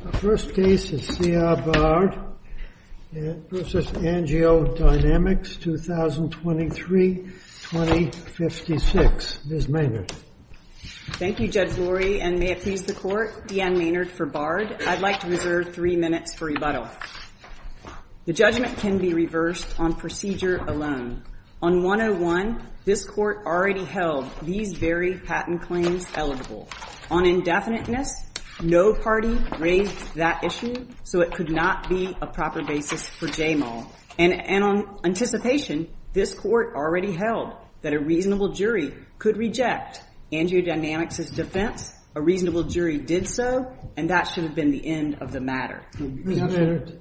The first case is C.R. Bard v. AngioDynamics, 2023-2056. Ms. Maynard. Thank you, Judge Lurie, and may it please the Court, Deanne Maynard for Bard. I'd like to reserve three minutes for rebuttal. The judgment can be reversed on procedure alone. On 101, this Court already held these very patent claims eligible. On indefiniteness, no party raised that issue, so it could not be a proper basis for JMAL. And on anticipation, this Court already held that a reasonable jury could reject AngioDynamics' defense. A reasonable jury did so, and that should have been the end of the matter. Ms. Maynard,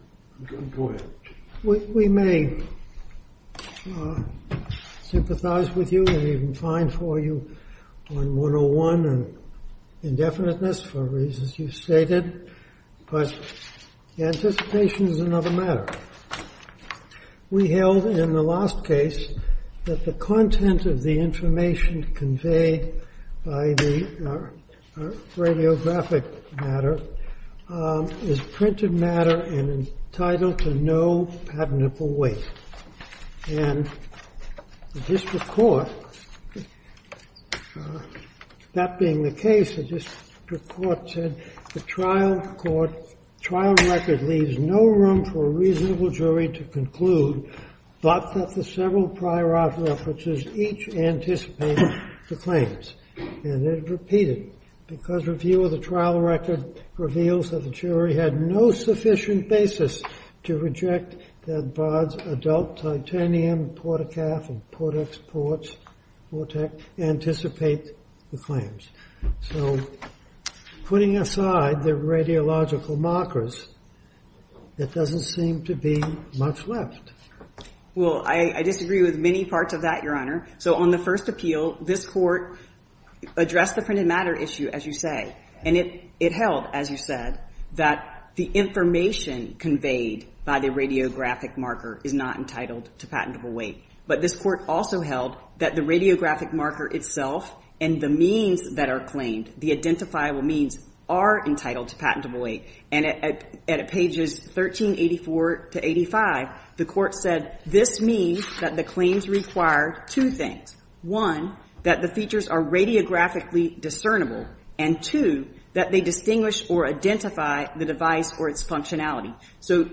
we may sympathize with you and even fine for you on 101 and indefiniteness for reasons you've stated, but anticipation is another matter. We held in the last case that the content of the information conveyed by the radiographic matter is printed matter and entitled to no patentable weight. And the district court, that being the case, the district court said, the trial record leaves no room for a reasonable jury to conclude, but that the several prior art references each anticipate the claims. And it repeated, because review of the trial record reveals that the jury had no sufficient basis to reject that Bard's adult titanium port-a-calf and port-ex-port vortex anticipate the claims. So putting aside the radiological markers, it doesn't seem to be much left. Well, I disagree with many parts of that, Your Honor. So on the first appeal, this Court addressed the printed matter issue, as you say. And it held, as you said, that the information conveyed by the radiographic marker is not entitled to patentable weight. But this Court also held that the radiographic marker itself and the means that are claimed, the identifiable means, are entitled to patentable weight. And at pages 1384 to 85, the Court said, this means that the claims require two things. One, that the features are radiographically discernible. And two, that they distinguish or identify the device or its functionality. So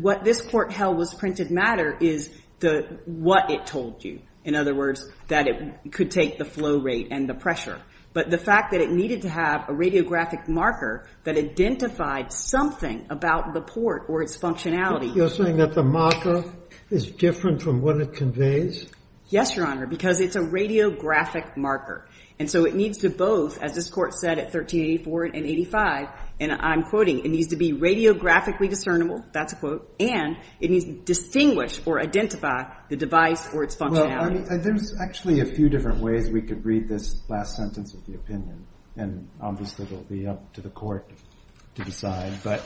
what this Court held was printed matter is what it told you. In other words, that it could take the flow rate and the pressure. But the fact that it needed to have a radiographic marker that identified something about the port or its functionality. You're saying that the marker is different from what it conveys? Yes, Your Honor, because it's a radiographic marker. And so it needs to both, as this Court said at 1384 and 85, and I'm quoting, it needs to be radiographically discernible. That's a quote. And it needs to distinguish or identify the device or its functionality. There's actually a few different ways we could read this last sentence of the opinion. And obviously, it'll be up to the Court to decide. But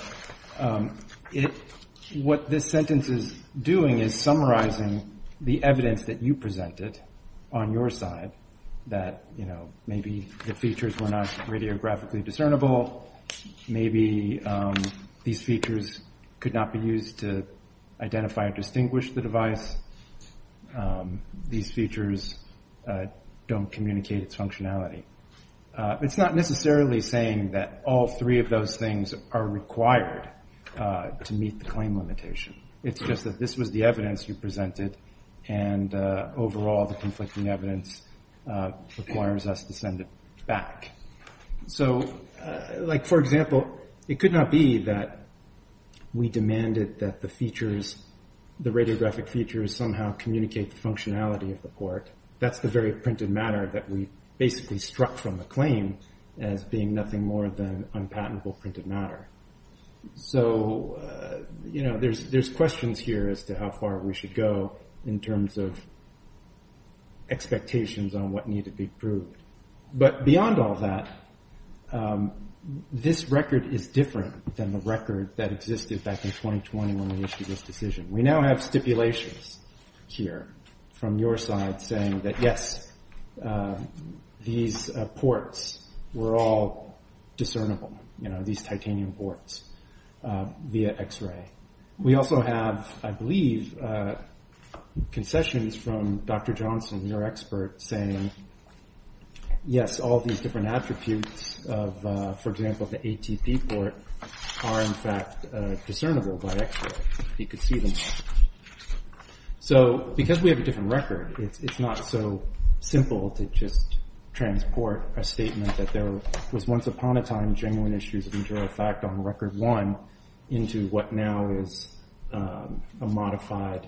what this sentence is doing is summarizing the evidence that you presented on your side that maybe the features were not radiographically discernible. Maybe these features could not be used to identify or distinguish the device. These features don't communicate its functionality. It's not necessarily saying that all three of those things are required to meet the claim limitation. It's just that this was the evidence you presented. And overall, the conflicting evidence requires us to send it back. So for example, it could not be that we demanded that the features, the radiographic features, somehow communicate the functionality of the court. That's the very printed matter that we basically struck from the claim as being nothing more than unpatentable printed matter. So there's questions here as to how far we should go in terms of expectations on what needed to be proved. But beyond all that, this record is different than the record that existed back in 2020 when we issued this decision. We now have stipulations here from your side saying that, yes, these ports were all discernible, these titanium ports via X-ray. We also have, I believe, concessions from Dr. Johnson, your expert, saying, yes, all these different attributes of, for example, the ATP port are, in fact, discernible by X-ray. He could see them. So because we have a different record, it's not so simple to just transport a statement that there was once upon a time genuine issues of interior effect on record one into what now is a modified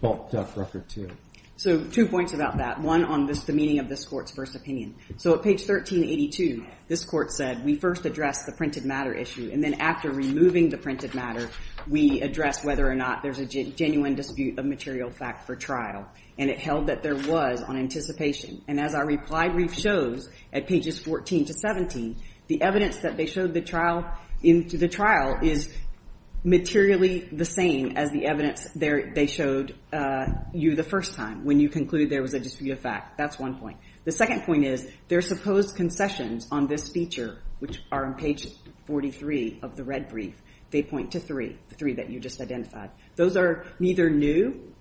bulked up record two. So two points about that, one on the meaning of this court's first opinion. So at page 1382, this court said, we first addressed the printed matter issue. And then after removing the printed matter, we addressed whether or not there's a genuine dispute of material fact for trial. And it held that there was on anticipation. And as our reply brief shows at pages 14 to 17, the evidence that they showed the trial is materially the same as the evidence they showed you the first time, when you conclude there was a dispute of fact. That's one point. The second point is, their supposed concessions on this feature, which are on page 43 of the red brief, they point to three, the three that you just identified. Those are neither new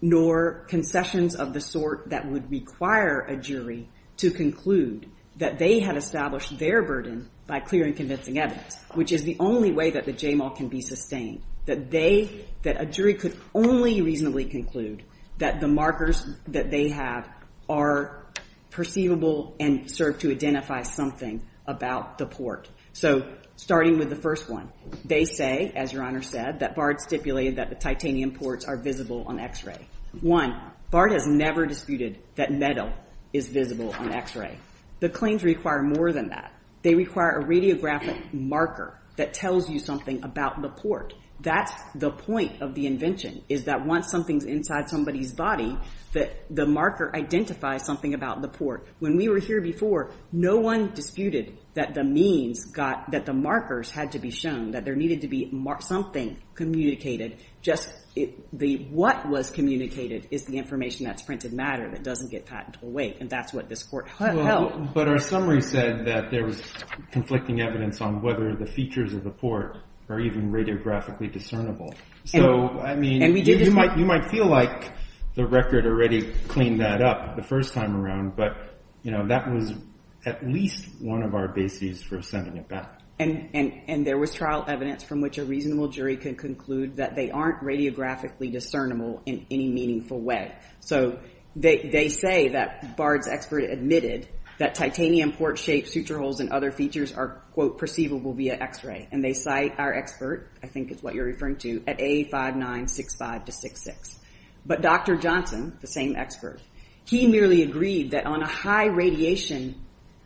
nor concessions of the sort that would require a jury to conclude that they had established their burden by clear and convincing evidence, which is the only way that the JMAL can be sustained, that a jury could only reasonably conclude that the markers that they have are perceivable and serve to identify something about the port. So starting with the first one, they say, as Your Honor said, that Bard stipulated that the titanium ports are visible on x-ray. One, Bard has never disputed that metal is visible on x-ray. The claims require more than that. They require a radiographic marker that tells you something about the port. That's the point of the invention, is that once something's inside somebody's body, that the marker identifies something about the port. When we were here before, no one disputed that the markers had to be shown, that there needed to be something communicated. What was communicated is the information that's printed matter that doesn't get patented away. And that's what this court held. But our summary said that there was conflicting evidence on whether the features of the port are even radiographically discernible. So I mean, you might feel like the record already cleaned that up the first time around, but that was at least one of our bases for sending it back. And there was trial evidence from which a reasonable jury could conclude that they aren't radiographically discernible in any meaningful way. So they say that Bard's expert admitted that titanium port-shaped suture holes and other features are, quote, perceivable via x-ray. And they cite our expert, I think is what you're referring to, at A5965 to 66. But Dr. Johnson, the same expert, he merely agreed that on a high radiation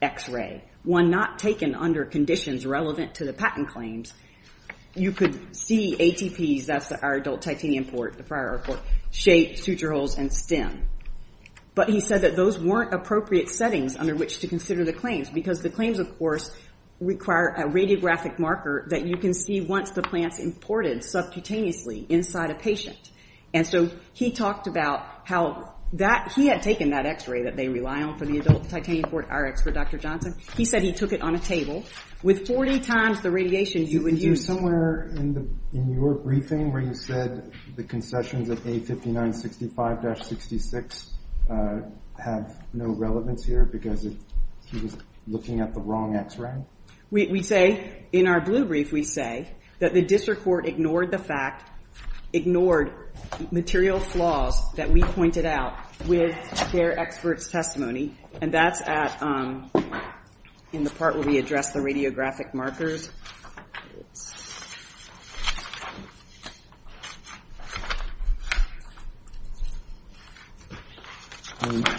x-ray, one not taken under conditions relevant to the patent claims, you could see ATPs, that's our adult titanium port, shaped suture holes and stem. But he said that those weren't appropriate settings under which to consider the claims, because the claims, of course, require a radiographic marker that you can see once the plant's imported subcutaneously inside a patient. And so he talked about how he had taken that x-ray that they rely on for the adult titanium port, our expert, Dr. Johnson. He said he took it on a table. With 40 times the radiation, you would use it. Is there somewhere in your briefing where you said the concessions of A5965-66 have no relevance here, because he was looking at the wrong x-ray? We say, in our blue brief, we say that the district court ignored the fact, ignored material flaws that we pointed out with their expert's testimony. And that's in the part where we address the radiographic markers. OK.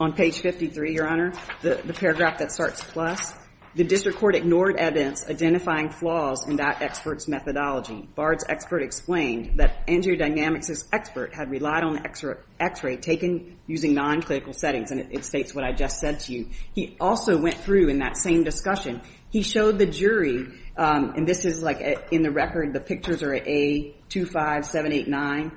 On page 53, Your Honor, the paragraph that starts plus. The district court ignored evidence identifying flaws in that expert's methodology. Bard's expert explained that Angiodynamics' expert had relied on the x-ray taken using non-clinical settings. And it states what I just said to you. He also went through, in that same discussion, he showed the jury. And this is in the record. The pictures are A25789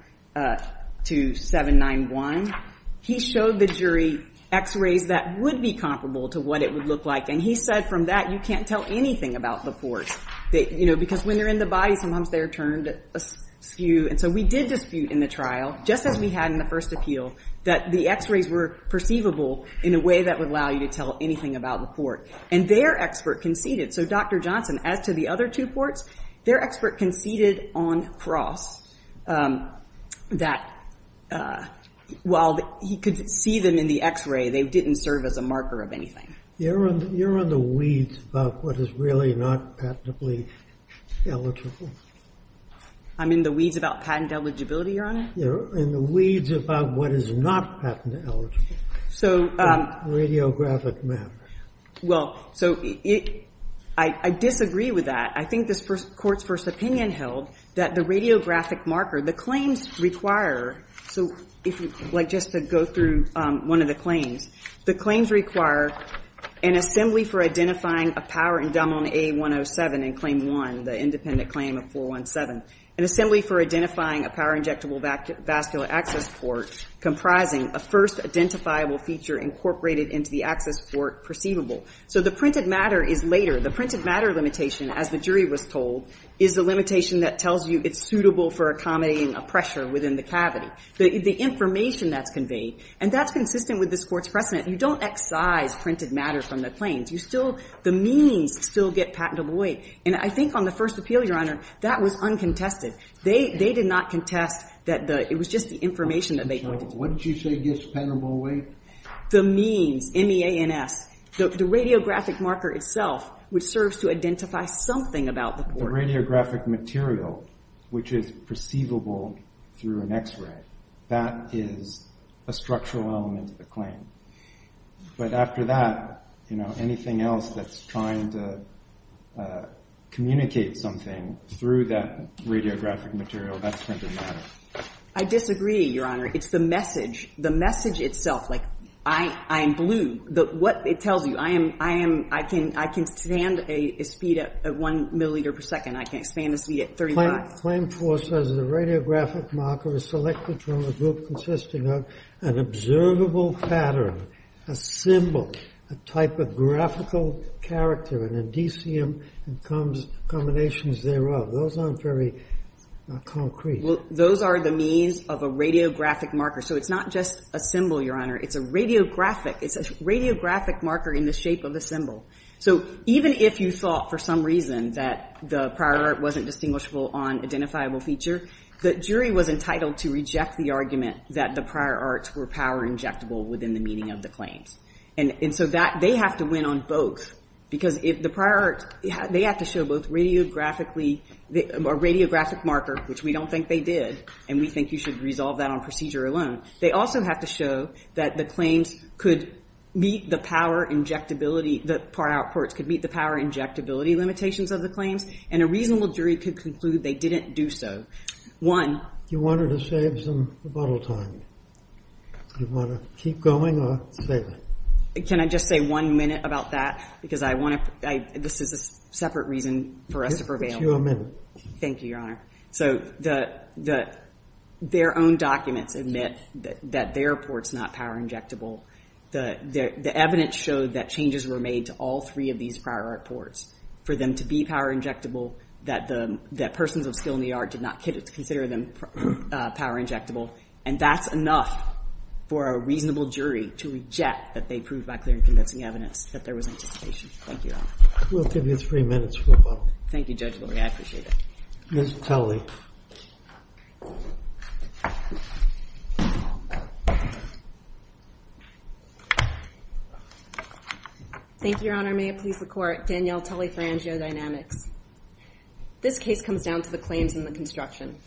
to 791. He showed the jury x-rays that would be comparable to what it would look like. And he said, from that, you can't tell anything about the port, because when they're in the body, sometimes they're turned askew. And so we did dispute in the trial, just as we had in the first appeal, that the x-rays were perceivable in a way that would allow you to tell anything about the port. And their expert conceded. So Dr. Johnson, as to the other two ports, their expert conceded on cross that, while he could see them in the x-ray, they didn't serve as a marker of anything. You're on the weeds about what is really not patently eligible. I'm in the weeds about patent eligibility, Your Honor? You're in the weeds about what is not patent eligible. So Radiographic maps. Well, so I disagree with that. I think this court's first opinion held that the radiographic marker, the claims require, so if you'd like just to go through one of the claims, the claims require an assembly for identifying a power indomitable A107 in claim one, the independent claim of 417. An assembly for identifying a power injectable vascular access port comprising a first identifiable feature incorporated into the access port perceivable. So the printed matter is later. The printed matter limitation, as the jury was told, is the limitation that tells you it's suitable for accommodating a pressure within the cavity. The information that's conveyed, and that's consistent with this court's precedent, you don't excise printed matter from the claims. The means still get patentable away. And I think on the first appeal, Your Honor, that was uncontested. They did not contest that it was just the information that they collected. What did you say gets patentable away? The means, M-E-A-N-S, the radiographic marker itself, which serves to identify something about the port. The radiographic material, which is perceivable through an x-ray, that is a structural element of the claim. But after that, anything else that's trying to communicate something through that radiographic material, that's printed matter. I disagree, Your Honor. It's the message. Like, I am blue. What it tells you, I can stand a speed at one milliliter per second. I can stand a speed at 35. Claim four says the radiographic marker is selected from a group consisting of an observable pattern, a symbol, a typographical character, an indicium, and combinations thereof. Those aren't very concrete. Those are the means of a radiographic marker. So it's not just a symbol, Your Honor. It's a radiographic. It's a radiographic marker in the shape of a symbol. So even if you thought, for some reason, that the prior art wasn't distinguishable on identifiable feature, the jury was entitled to reject the argument that the prior arts were power injectable within the meaning of the claims. And so they have to win on both. Because if the prior art, they have to show both radiographically, a radiographic marker, which we don't think they did. And we think you should resolve that on procedure alone. They also have to show that the claims could meet the power injectability. The prior art courts could meet the power injectability limitations of the claims. And a reasonable jury could conclude they didn't do so. One. You wanted to save some rebuttal time. You want to keep going or save it? Can I just say one minute about that? Because this is a separate reason for us to prevail. It's your minute. Thank you, Your Honor. So their own documents admit that their report's not power injectable. The evidence showed that changes were made to all three of these prior art courts for them to be power injectable, that persons of skill in the art did not consider them power injectable. And that's enough for a reasonable jury to reject that they proved by clear and convincing evidence that there was anticipation. Thank you, Your Honor. We'll give you three minutes for rebuttal. Thank you, Judge Lori. I appreciate it. Ms. Tully. Thank you, Your Honor. May it please the court. Danielle Tully for Angiodynamics. This case comes down to the claims in the construction.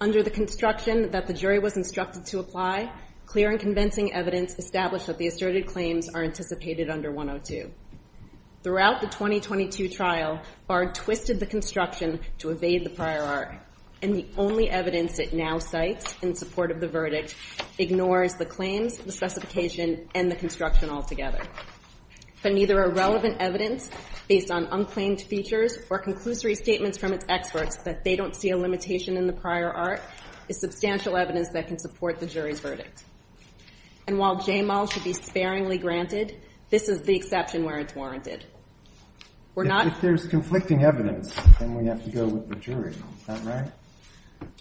Under the construction that the jury was instructed to apply, clear and convincing evidence established that the asserted claims are anticipated under 102. Throughout the 2022 trial, Bard twisted the construction to evade the prior art. And the only evidence it now cites in support of the verdict ignores the claims, the specification, and the construction altogether. But neither are relevant evidence based on unclaimed features or conclusory statements from its experts that they don't see a limitation in the prior art is substantial evidence that can support the jury's verdict. And while JMAL should be sparingly granted, this is the exception where it's warranted. We're not. If there's conflicting evidence, then we have to go with the jury. Is that right?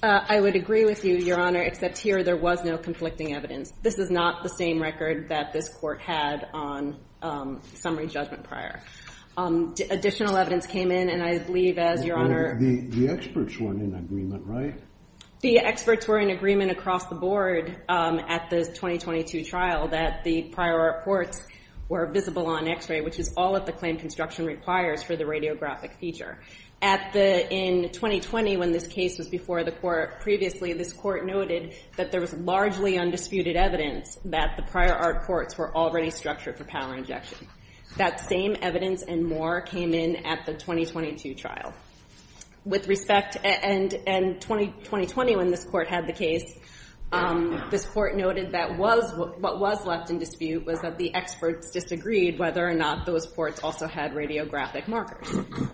I would agree with you, Your Honor, except here there was no conflicting evidence. This is not the same record that this court had on summary judgment prior. Additional evidence came in. And I believe, as Your Honor. The experts were in agreement, right? The experts were in agreement across the board at the 2022 trial that the prior reports were visible on x-ray, which is all that the claim construction requires for the radiographic feature. In 2020, when this case was before the court previously, this court noted that there was largely undisputed evidence that the prior art courts were already structured for power injection. That same evidence and more came in at the 2022 trial. With respect to 2020, when this court had the case, this court noted that what was left in dispute was that the experts disagreed whether or not those ports also had radiographic markers.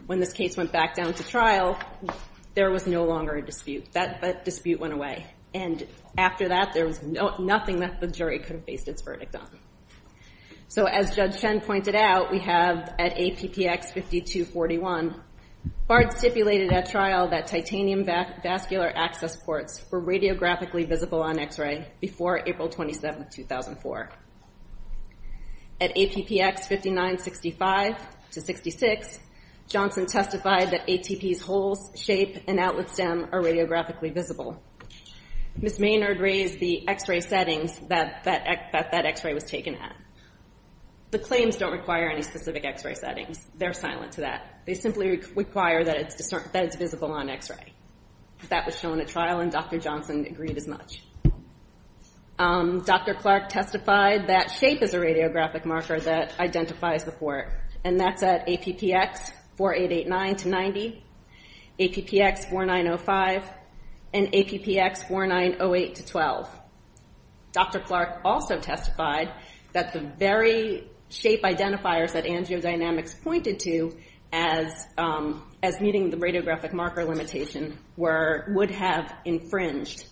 When this case went back down to trial, there was no longer a dispute. That dispute went away. And after that, there was nothing that the jury could have based its verdict on. So as Judge Chen pointed out, we have at APPX 5241, Bard stipulated at trial that titanium vascular access ports were radiographically visible on x-ray before April 27, 2004. At APPX 5965 to 66, Johnson testified that ATP's holes, shape, and outlet stem are radiographically visible. Ms. Maynard raised the x-ray settings that that x-ray was taken at. The claims don't require any specific x-ray settings. They're silent to that. They simply require that it's visible on x-ray. That was shown at trial, and Dr. Johnson agreed as much. Dr. Clark testified that shape is a radiographic marker that identifies the port. And that's at APPX 4889 to 90, APPX 4905, and APPX 4908 to 12. Dr. Clark also testified that the very shape identifiers that angiodynamics pointed to as meeting the radiographic marker limitation would have infringed.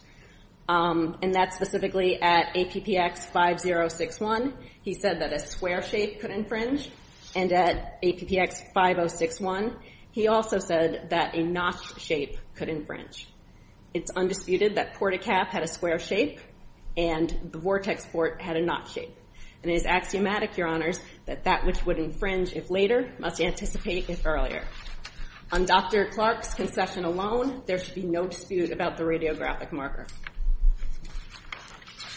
And that's specifically at APPX 5061. He said that a square shape could infringe. And at APPX 5061, he also said that a notched shape could infringe. It's undisputed that port-a-calf had a square shape, and the vortex port had a notched shape. And it is axiomatic, your honors, that that which would infringe if later must anticipate if earlier. On Dr. Clark's concession alone, there should be no dispute about the radiographic marker.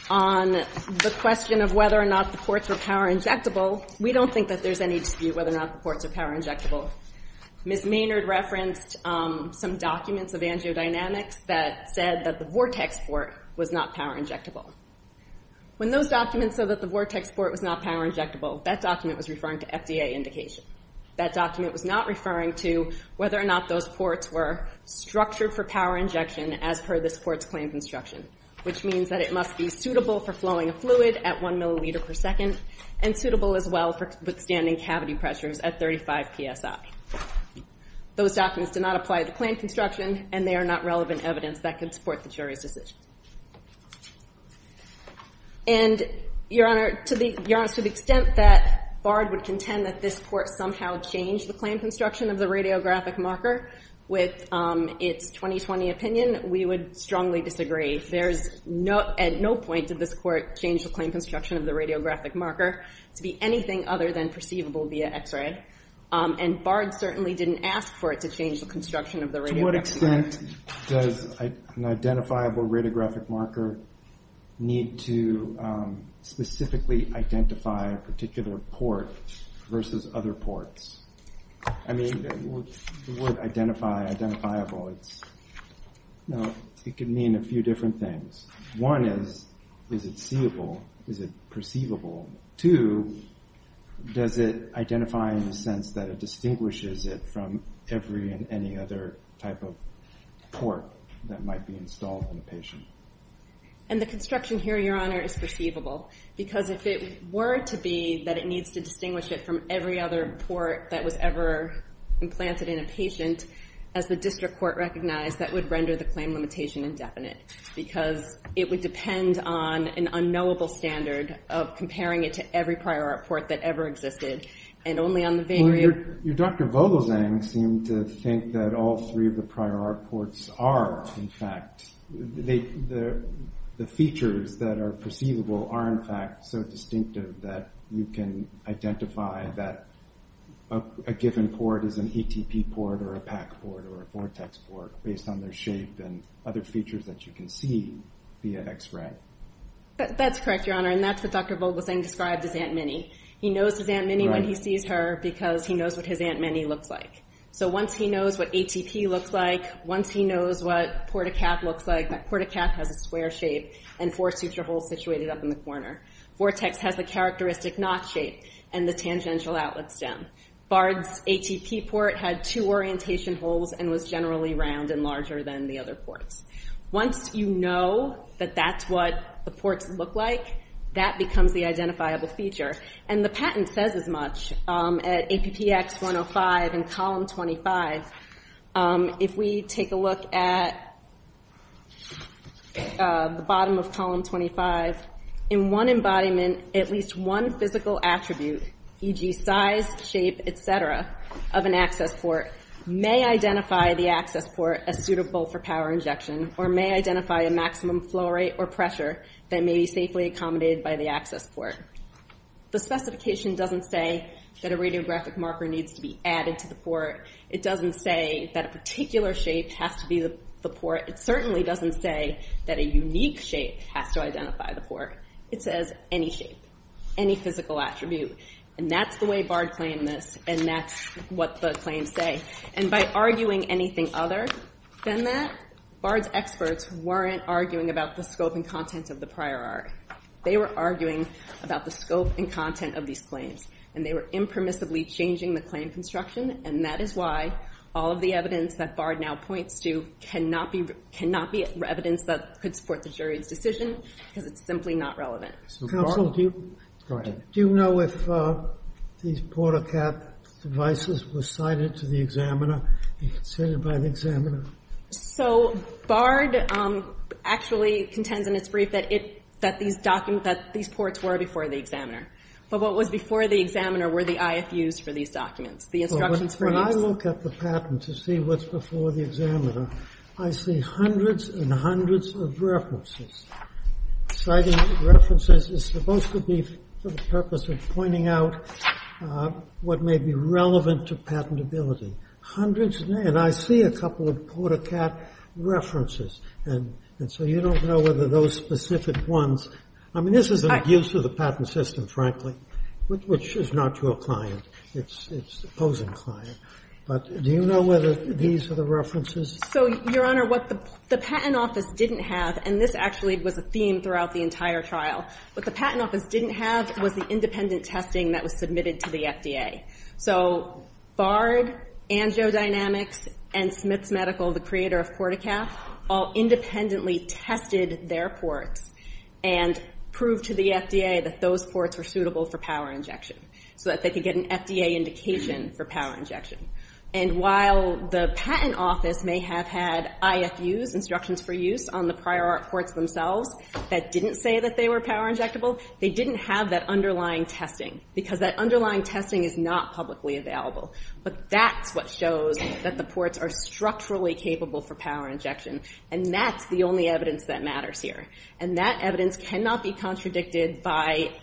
On the question of whether or not the ports were power injectable, we don't think that there's any dispute whether or not the ports are power injectable. Ms. Maynard referenced some documents of angiodynamics that said that the vortex port was not power injectable. When those documents said that the vortex port was not power injectable, that document was referring to FDA indication. That document was not referring to whether or not those ports were structured for power injection as per this court's claims instruction, which means that it must be suitable for flowing a fluid at 1 milliliter per second, and suitable as well for withstanding cavity pressures at 35 PSI. Those documents do not apply to claim construction, and they are not relevant evidence that could support the jury's decision. And your honor, to the extent that Bard would contend that this court somehow changed the claim construction of the radiographic marker with its 2020 opinion, we would strongly disagree. At no point did this court change the claim construction of the radiographic marker to be anything other than perceivable via x-ray. And Bard certainly didn't ask for it to change the construction of the radiographic marker. To what extent does an identifiable radiographic marker need to specifically identify a particular port versus other ports? I mean, the word identifiable, it could mean a few different things. One is, is it seeable? Is it perceivable? Two, does it identify in the sense that it distinguishes it from every and any other type of port that might be installed in a patient? And the construction here, your honor, is perceivable. Because if it were to be that it needs to distinguish it from every other port that was ever implanted in a patient, as the district court recognized, that would render the claim limitation indefinite. Because it would depend on an unknowable standard of comparing it to every prior port that ever existed, and only on the very- Your Dr. Vogelzang seemed to think that all three of the prior art ports are, in fact, the features that are perceivable are, in fact, so distinctive that you can identify that a given port is an ETP port, or a PAC port, or a Vortex port, based on their shape and other features that you can see via x-ray. That's correct, your honor. And that's what Dr. Vogelzang described as Aunt Minnie. He knows his Aunt Minnie when he sees her, because he knows what his Aunt Minnie looks like. So once he knows what ATP looks like, once he knows what Port-A-Cath looks like, that Port-A-Cath has a square shape and four suture holes situated up in the corner. Vortex has the characteristic knot shape and the tangential outlet stem. Bard's ATP port had two orientation holes and was generally round and larger than the other ports. Once you know that that's what the ports look like, that becomes the identifiable feature. And the patent says as much at APPX 105 in column 25. If we take a look at the bottom of column 25, in one embodiment, at least one physical attribute, e.g. size, shape, et cetera, of an access port may identify the access port as suitable for power injection, or may identify a maximum flow rate or pressure that may be safely accommodated by the access port. The specification doesn't say that a radiographic marker needs to be added to the port. It doesn't say that a particular shape has to be the port. It certainly doesn't say that a unique shape has to identify the port. It says any shape, any physical attribute. And that's the way Bard claimed this, and that's what the claims say. And by arguing anything other than that, Bard's experts weren't arguing about the scope and content of the prior art. They were arguing about the scope and content of these claims, and they were impermissibly changing the claim construction, and that is why all of the evidence that Bard now points to cannot be evidence that could support the jury's decision, because it's simply not relevant. Counsel, do you know if these port-a-cap devices were cited to the examiner, be considered by the examiner? So Bard actually contends in its brief that these ports were before the examiner. But what was before the examiner were the IFUs for these documents, the instructions for use. When I look at the patent to see what's before the examiner, I see hundreds and hundreds of references. Citing references is supposed to be for the purpose of pointing out what may be relevant to patentability. Hundreds, and I see a couple of port-a-cap references, and so you don't know whether those specific ones, I mean, this is an abuse of the patent system, frankly, which is not to a client, it's the opposing client. But do you know whether these are the references? So, Your Honor, what the patent office didn't have, and this actually was a theme throughout the entire trial, what the patent office didn't have was the independent testing that was submitted to the FDA. So Bard, AngioDynamics, and Smith's Medical, the creator of port-a-cap, all independently tested their ports and proved to the FDA that those ports were suitable for power injection so that they could get an FDA indication for power injection. And while the patent office may have had IFUs, instructions for use, on the prior art ports themselves that didn't say that they were power injectable, they didn't have that underlying testing because that underlying testing is not publicly available. But that's what shows that the ports are structurally capable for power injection, and that's the only evidence that matters here. And that evidence cannot be contradicted by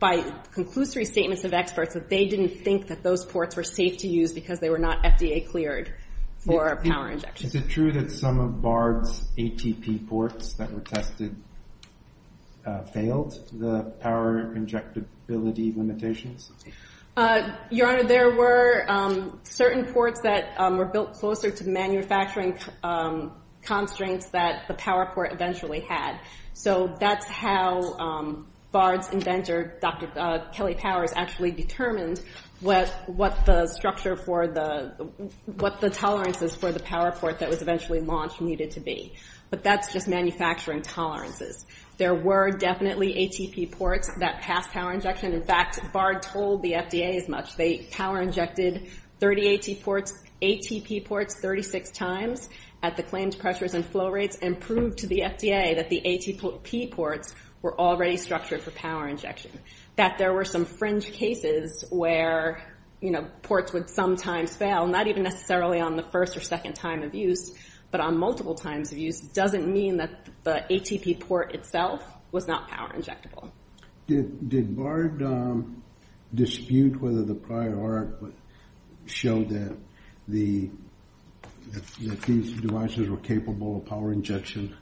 conclusory statements of experts that they didn't think that those ports were safe to use because they were not FDA cleared for power injection. Is it true that some of Bard's ATP ports that were tested failed the power injectability limitations? Your Honor, there were certain ports that were built closer to manufacturing constraints that the PowerPort eventually had. So that's how Bard's inventor, Dr. Kelly Powers, actually determined what the structure for the, what the tolerances for the PowerPort that was eventually launched needed to be. But that's just manufacturing tolerances. There were definitely ATP ports that passed power injection. In fact, Bard told the FDA as much. They power injected 30 ATP ports 36 times at the claimed pressures and flow rates and proved to the FDA that the ATP ports were already structured for power injection. That there were some fringe cases where ports would sometimes fail, not even necessarily on the first or second time of use, but on multiple times of use doesn't mean that the ATP port itself was not power injectable. Did Bard dispute whether the prior art showed that these devices were capable of power injection?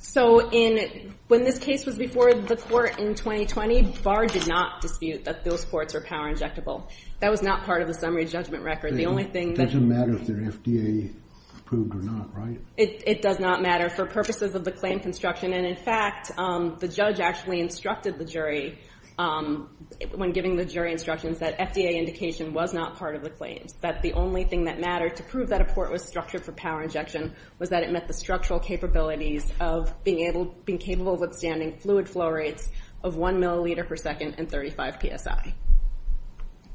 So when this case was before the court in 2020, Bard did not dispute that those ports were power injectable. That was not part of the summary judgment record. The only thing that- It doesn't matter if they're FDA approved or not, right? It does not matter for purposes of the claim construction. And in fact, the judge actually instructed the jury when giving the jury instructions that FDA indication was not part of the claims. That the only thing that mattered to prove that a port was structured for power injection was that it met the structural capabilities of being able, being capable of withstanding fluid flow rates of one milliliter per second and 35 PSI.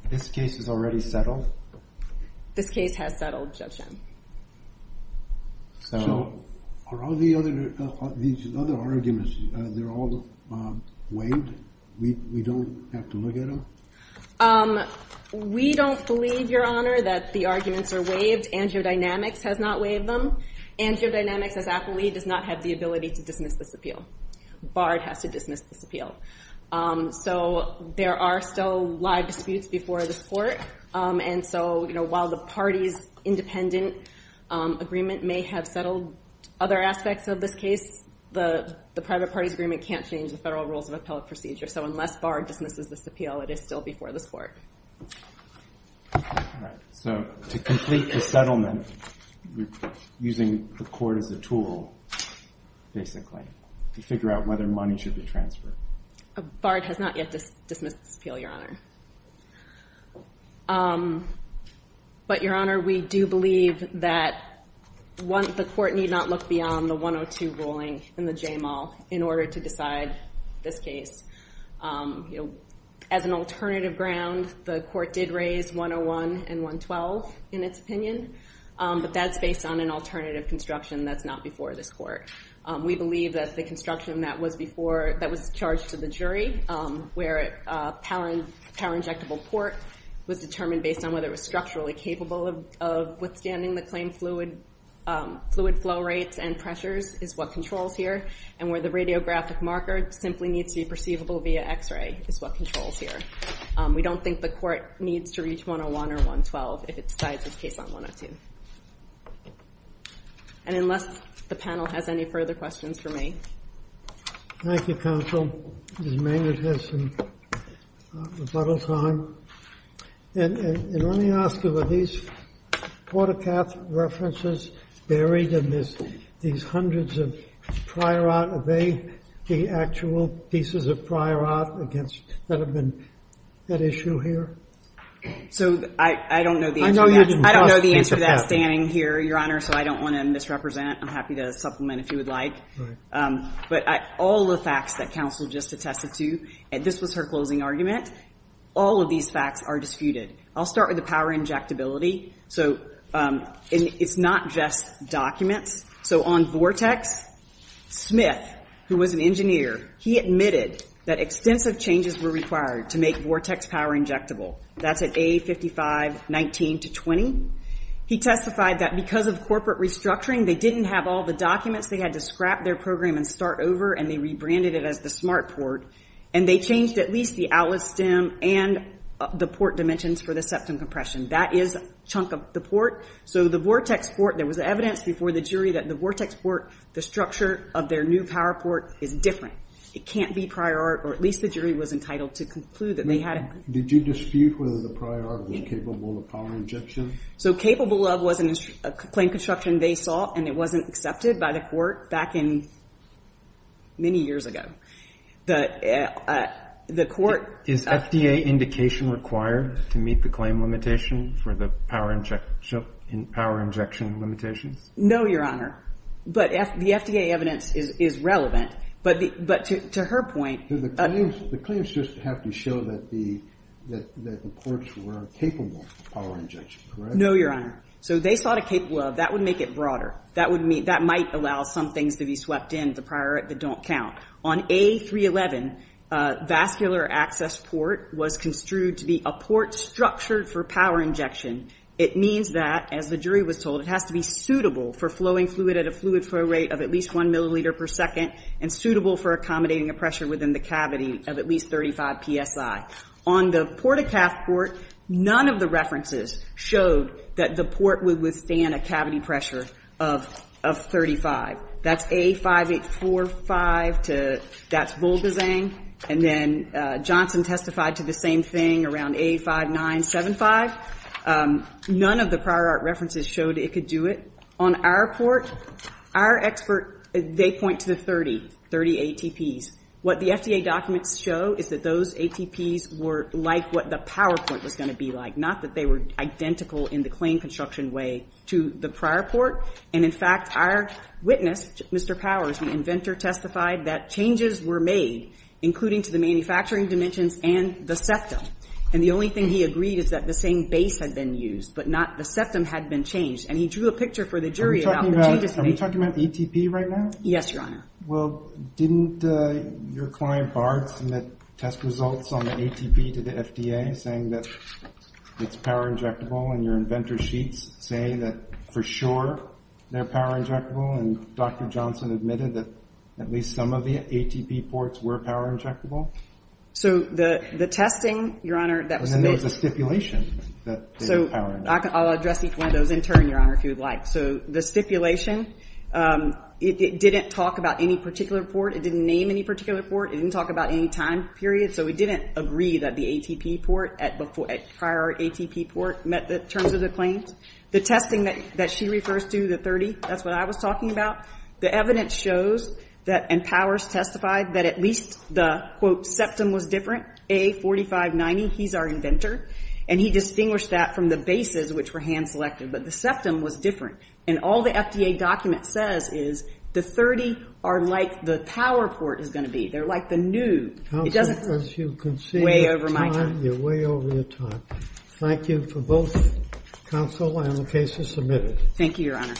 This case was already settled? This case has settled, Judge Shen. So are all these other arguments, they're all waived? We don't have to look at them? We don't believe, Your Honor, that the arguments are waived AngioDynamics has not waived them. AngioDynamics, as appellee, does not have the ability to dismiss this appeal. Bard has to dismiss this appeal. So there are still live disputes before this court. And so, while the party's independent agreement may have settled other aspects of this case, the private party's agreement can't change the federal rules of appellate procedure. So unless Bard dismisses this appeal, it is still before this court. So to complete the settlement, you're using the court as a tool, basically, to figure out whether money should be transferred. Bard has not yet dismissed this appeal, Your Honor. But, Your Honor, we do believe that the court need not look beyond the 102 ruling in the J-Mal in order to decide this case. As an alternative ground, the court did raise 101 and 112 in its opinion. But that's based on an alternative construction that's not before this court. We believe that the construction that was before, that was charged to the jury, where a power injectable port was determined based on whether it was structurally capable of withstanding the claimed fluid flow rates and pressures is what controls here. And where the radiographic marker simply needs to be perceivable via X-ray is what controls here. We don't think the court needs to reach 101 or 112 if it decides this case on 102. And unless the panel has any further questions for me. Thank you, counsel. Ms. Maynard has some rebuttal time. And let me ask you, were these watercath references buried in these hundreds of prior art, are they the actual pieces of prior art against, that have been at issue here? So, I don't know the answer to that. I don't know the answer to that standing here, Your Honor, so I don't want to misrepresent. I'm happy to supplement if you would like. But all the facts that counsel just attested to, and this was her closing argument, all of these facts are disputed. I'll start with the power injectability. So, it's not just documents. So on Vortex, Smith, who was an engineer, he admitted that extensive changes were required to make Vortex power injectable. That's at A5519-20. He testified that because of corporate restructuring, they didn't have all the documents they had to scrap their program and start over, and they rebranded it as the smart port, and they changed at least the outlet stem and the port dimensions for the septum compression. That is a chunk of the port. So, the Vortex port, there was evidence before the jury that the Vortex port, the structure of their new power port is different. It can't be prior art, or at least the jury was entitled to conclude that they had it. Did you dispute whether the prior art was capable of power injection? So, capable of was a plain construction they saw, and it wasn't accepted by the court back in many years ago. The court- Is FDA indication required to meet the claim limitation for the power injection limitations? No, Your Honor. But the FDA evidence is relevant. But to her point- The claims just have to show that the courts were capable of power injection, correct? No, Your Honor. So, they saw the capable of. That would make it broader. That might allow some things to be swept in the prior art that don't count. On A311, vascular access port was construed to be a port structured for power injection. It means that, as the jury was told, it has to be suitable for flowing fluid at a fluid flow rate of at least one milliliter per second, and suitable for accommodating a pressure within the cavity of at least 35 PSI. On the Port-a-Cath port, none of the references showed that the port would withstand a cavity pressure of 35. That's A5845 to, that's Volgazang. And then Johnson testified to the same thing around A5975. None of the prior art references showed it could do it. On our port, our expert, they point to the 30, 30 ATPs. What the FDA documents show is that those ATPs were like what the PowerPoint was gonna be like, not that they were identical in the claim construction way to the prior port. And in fact, our witness, Mr. Powers, the inventor, testified that changes were made, including to the manufacturing dimensions and the septum. And the only thing he agreed is that the same base had been used, but not the septum had been changed. And he drew a picture for the jury about the changes made. Are we talking about the ATP right now? Yes, Your Honor. Well, didn't your client Bard submit test results on the ATP to the FDA, saying that it's power injectable, and your inventor's sheets say that, for sure, they're power injectable, and Dr. Johnson admitted that at least some of the ATP ports were power injectable? So the testing, Your Honor, that was a bit. And then there was a stipulation that they were power injectable. I'll address each one of those in turn, Your Honor, if you would like. So the stipulation, it didn't talk about any particular port. It didn't name any particular port. It didn't talk about any time period. So we didn't agree that the ATP port, prior ATP port, met the terms of the claims. The testing that she refers to, the 30, that's what I was talking about. The evidence shows that, and Powers testified, that at least the, quote, septum was different. A4590, he's our inventor. And he distinguished that from the bases, which were hand-selected. But the septum was different. And all the FDA document says is the 30 are like the power port is gonna be. They're like the new. It doesn't weigh over my time. You're way over your time. Thank you for both counsel and the cases submitted. Thank you, Your Honor.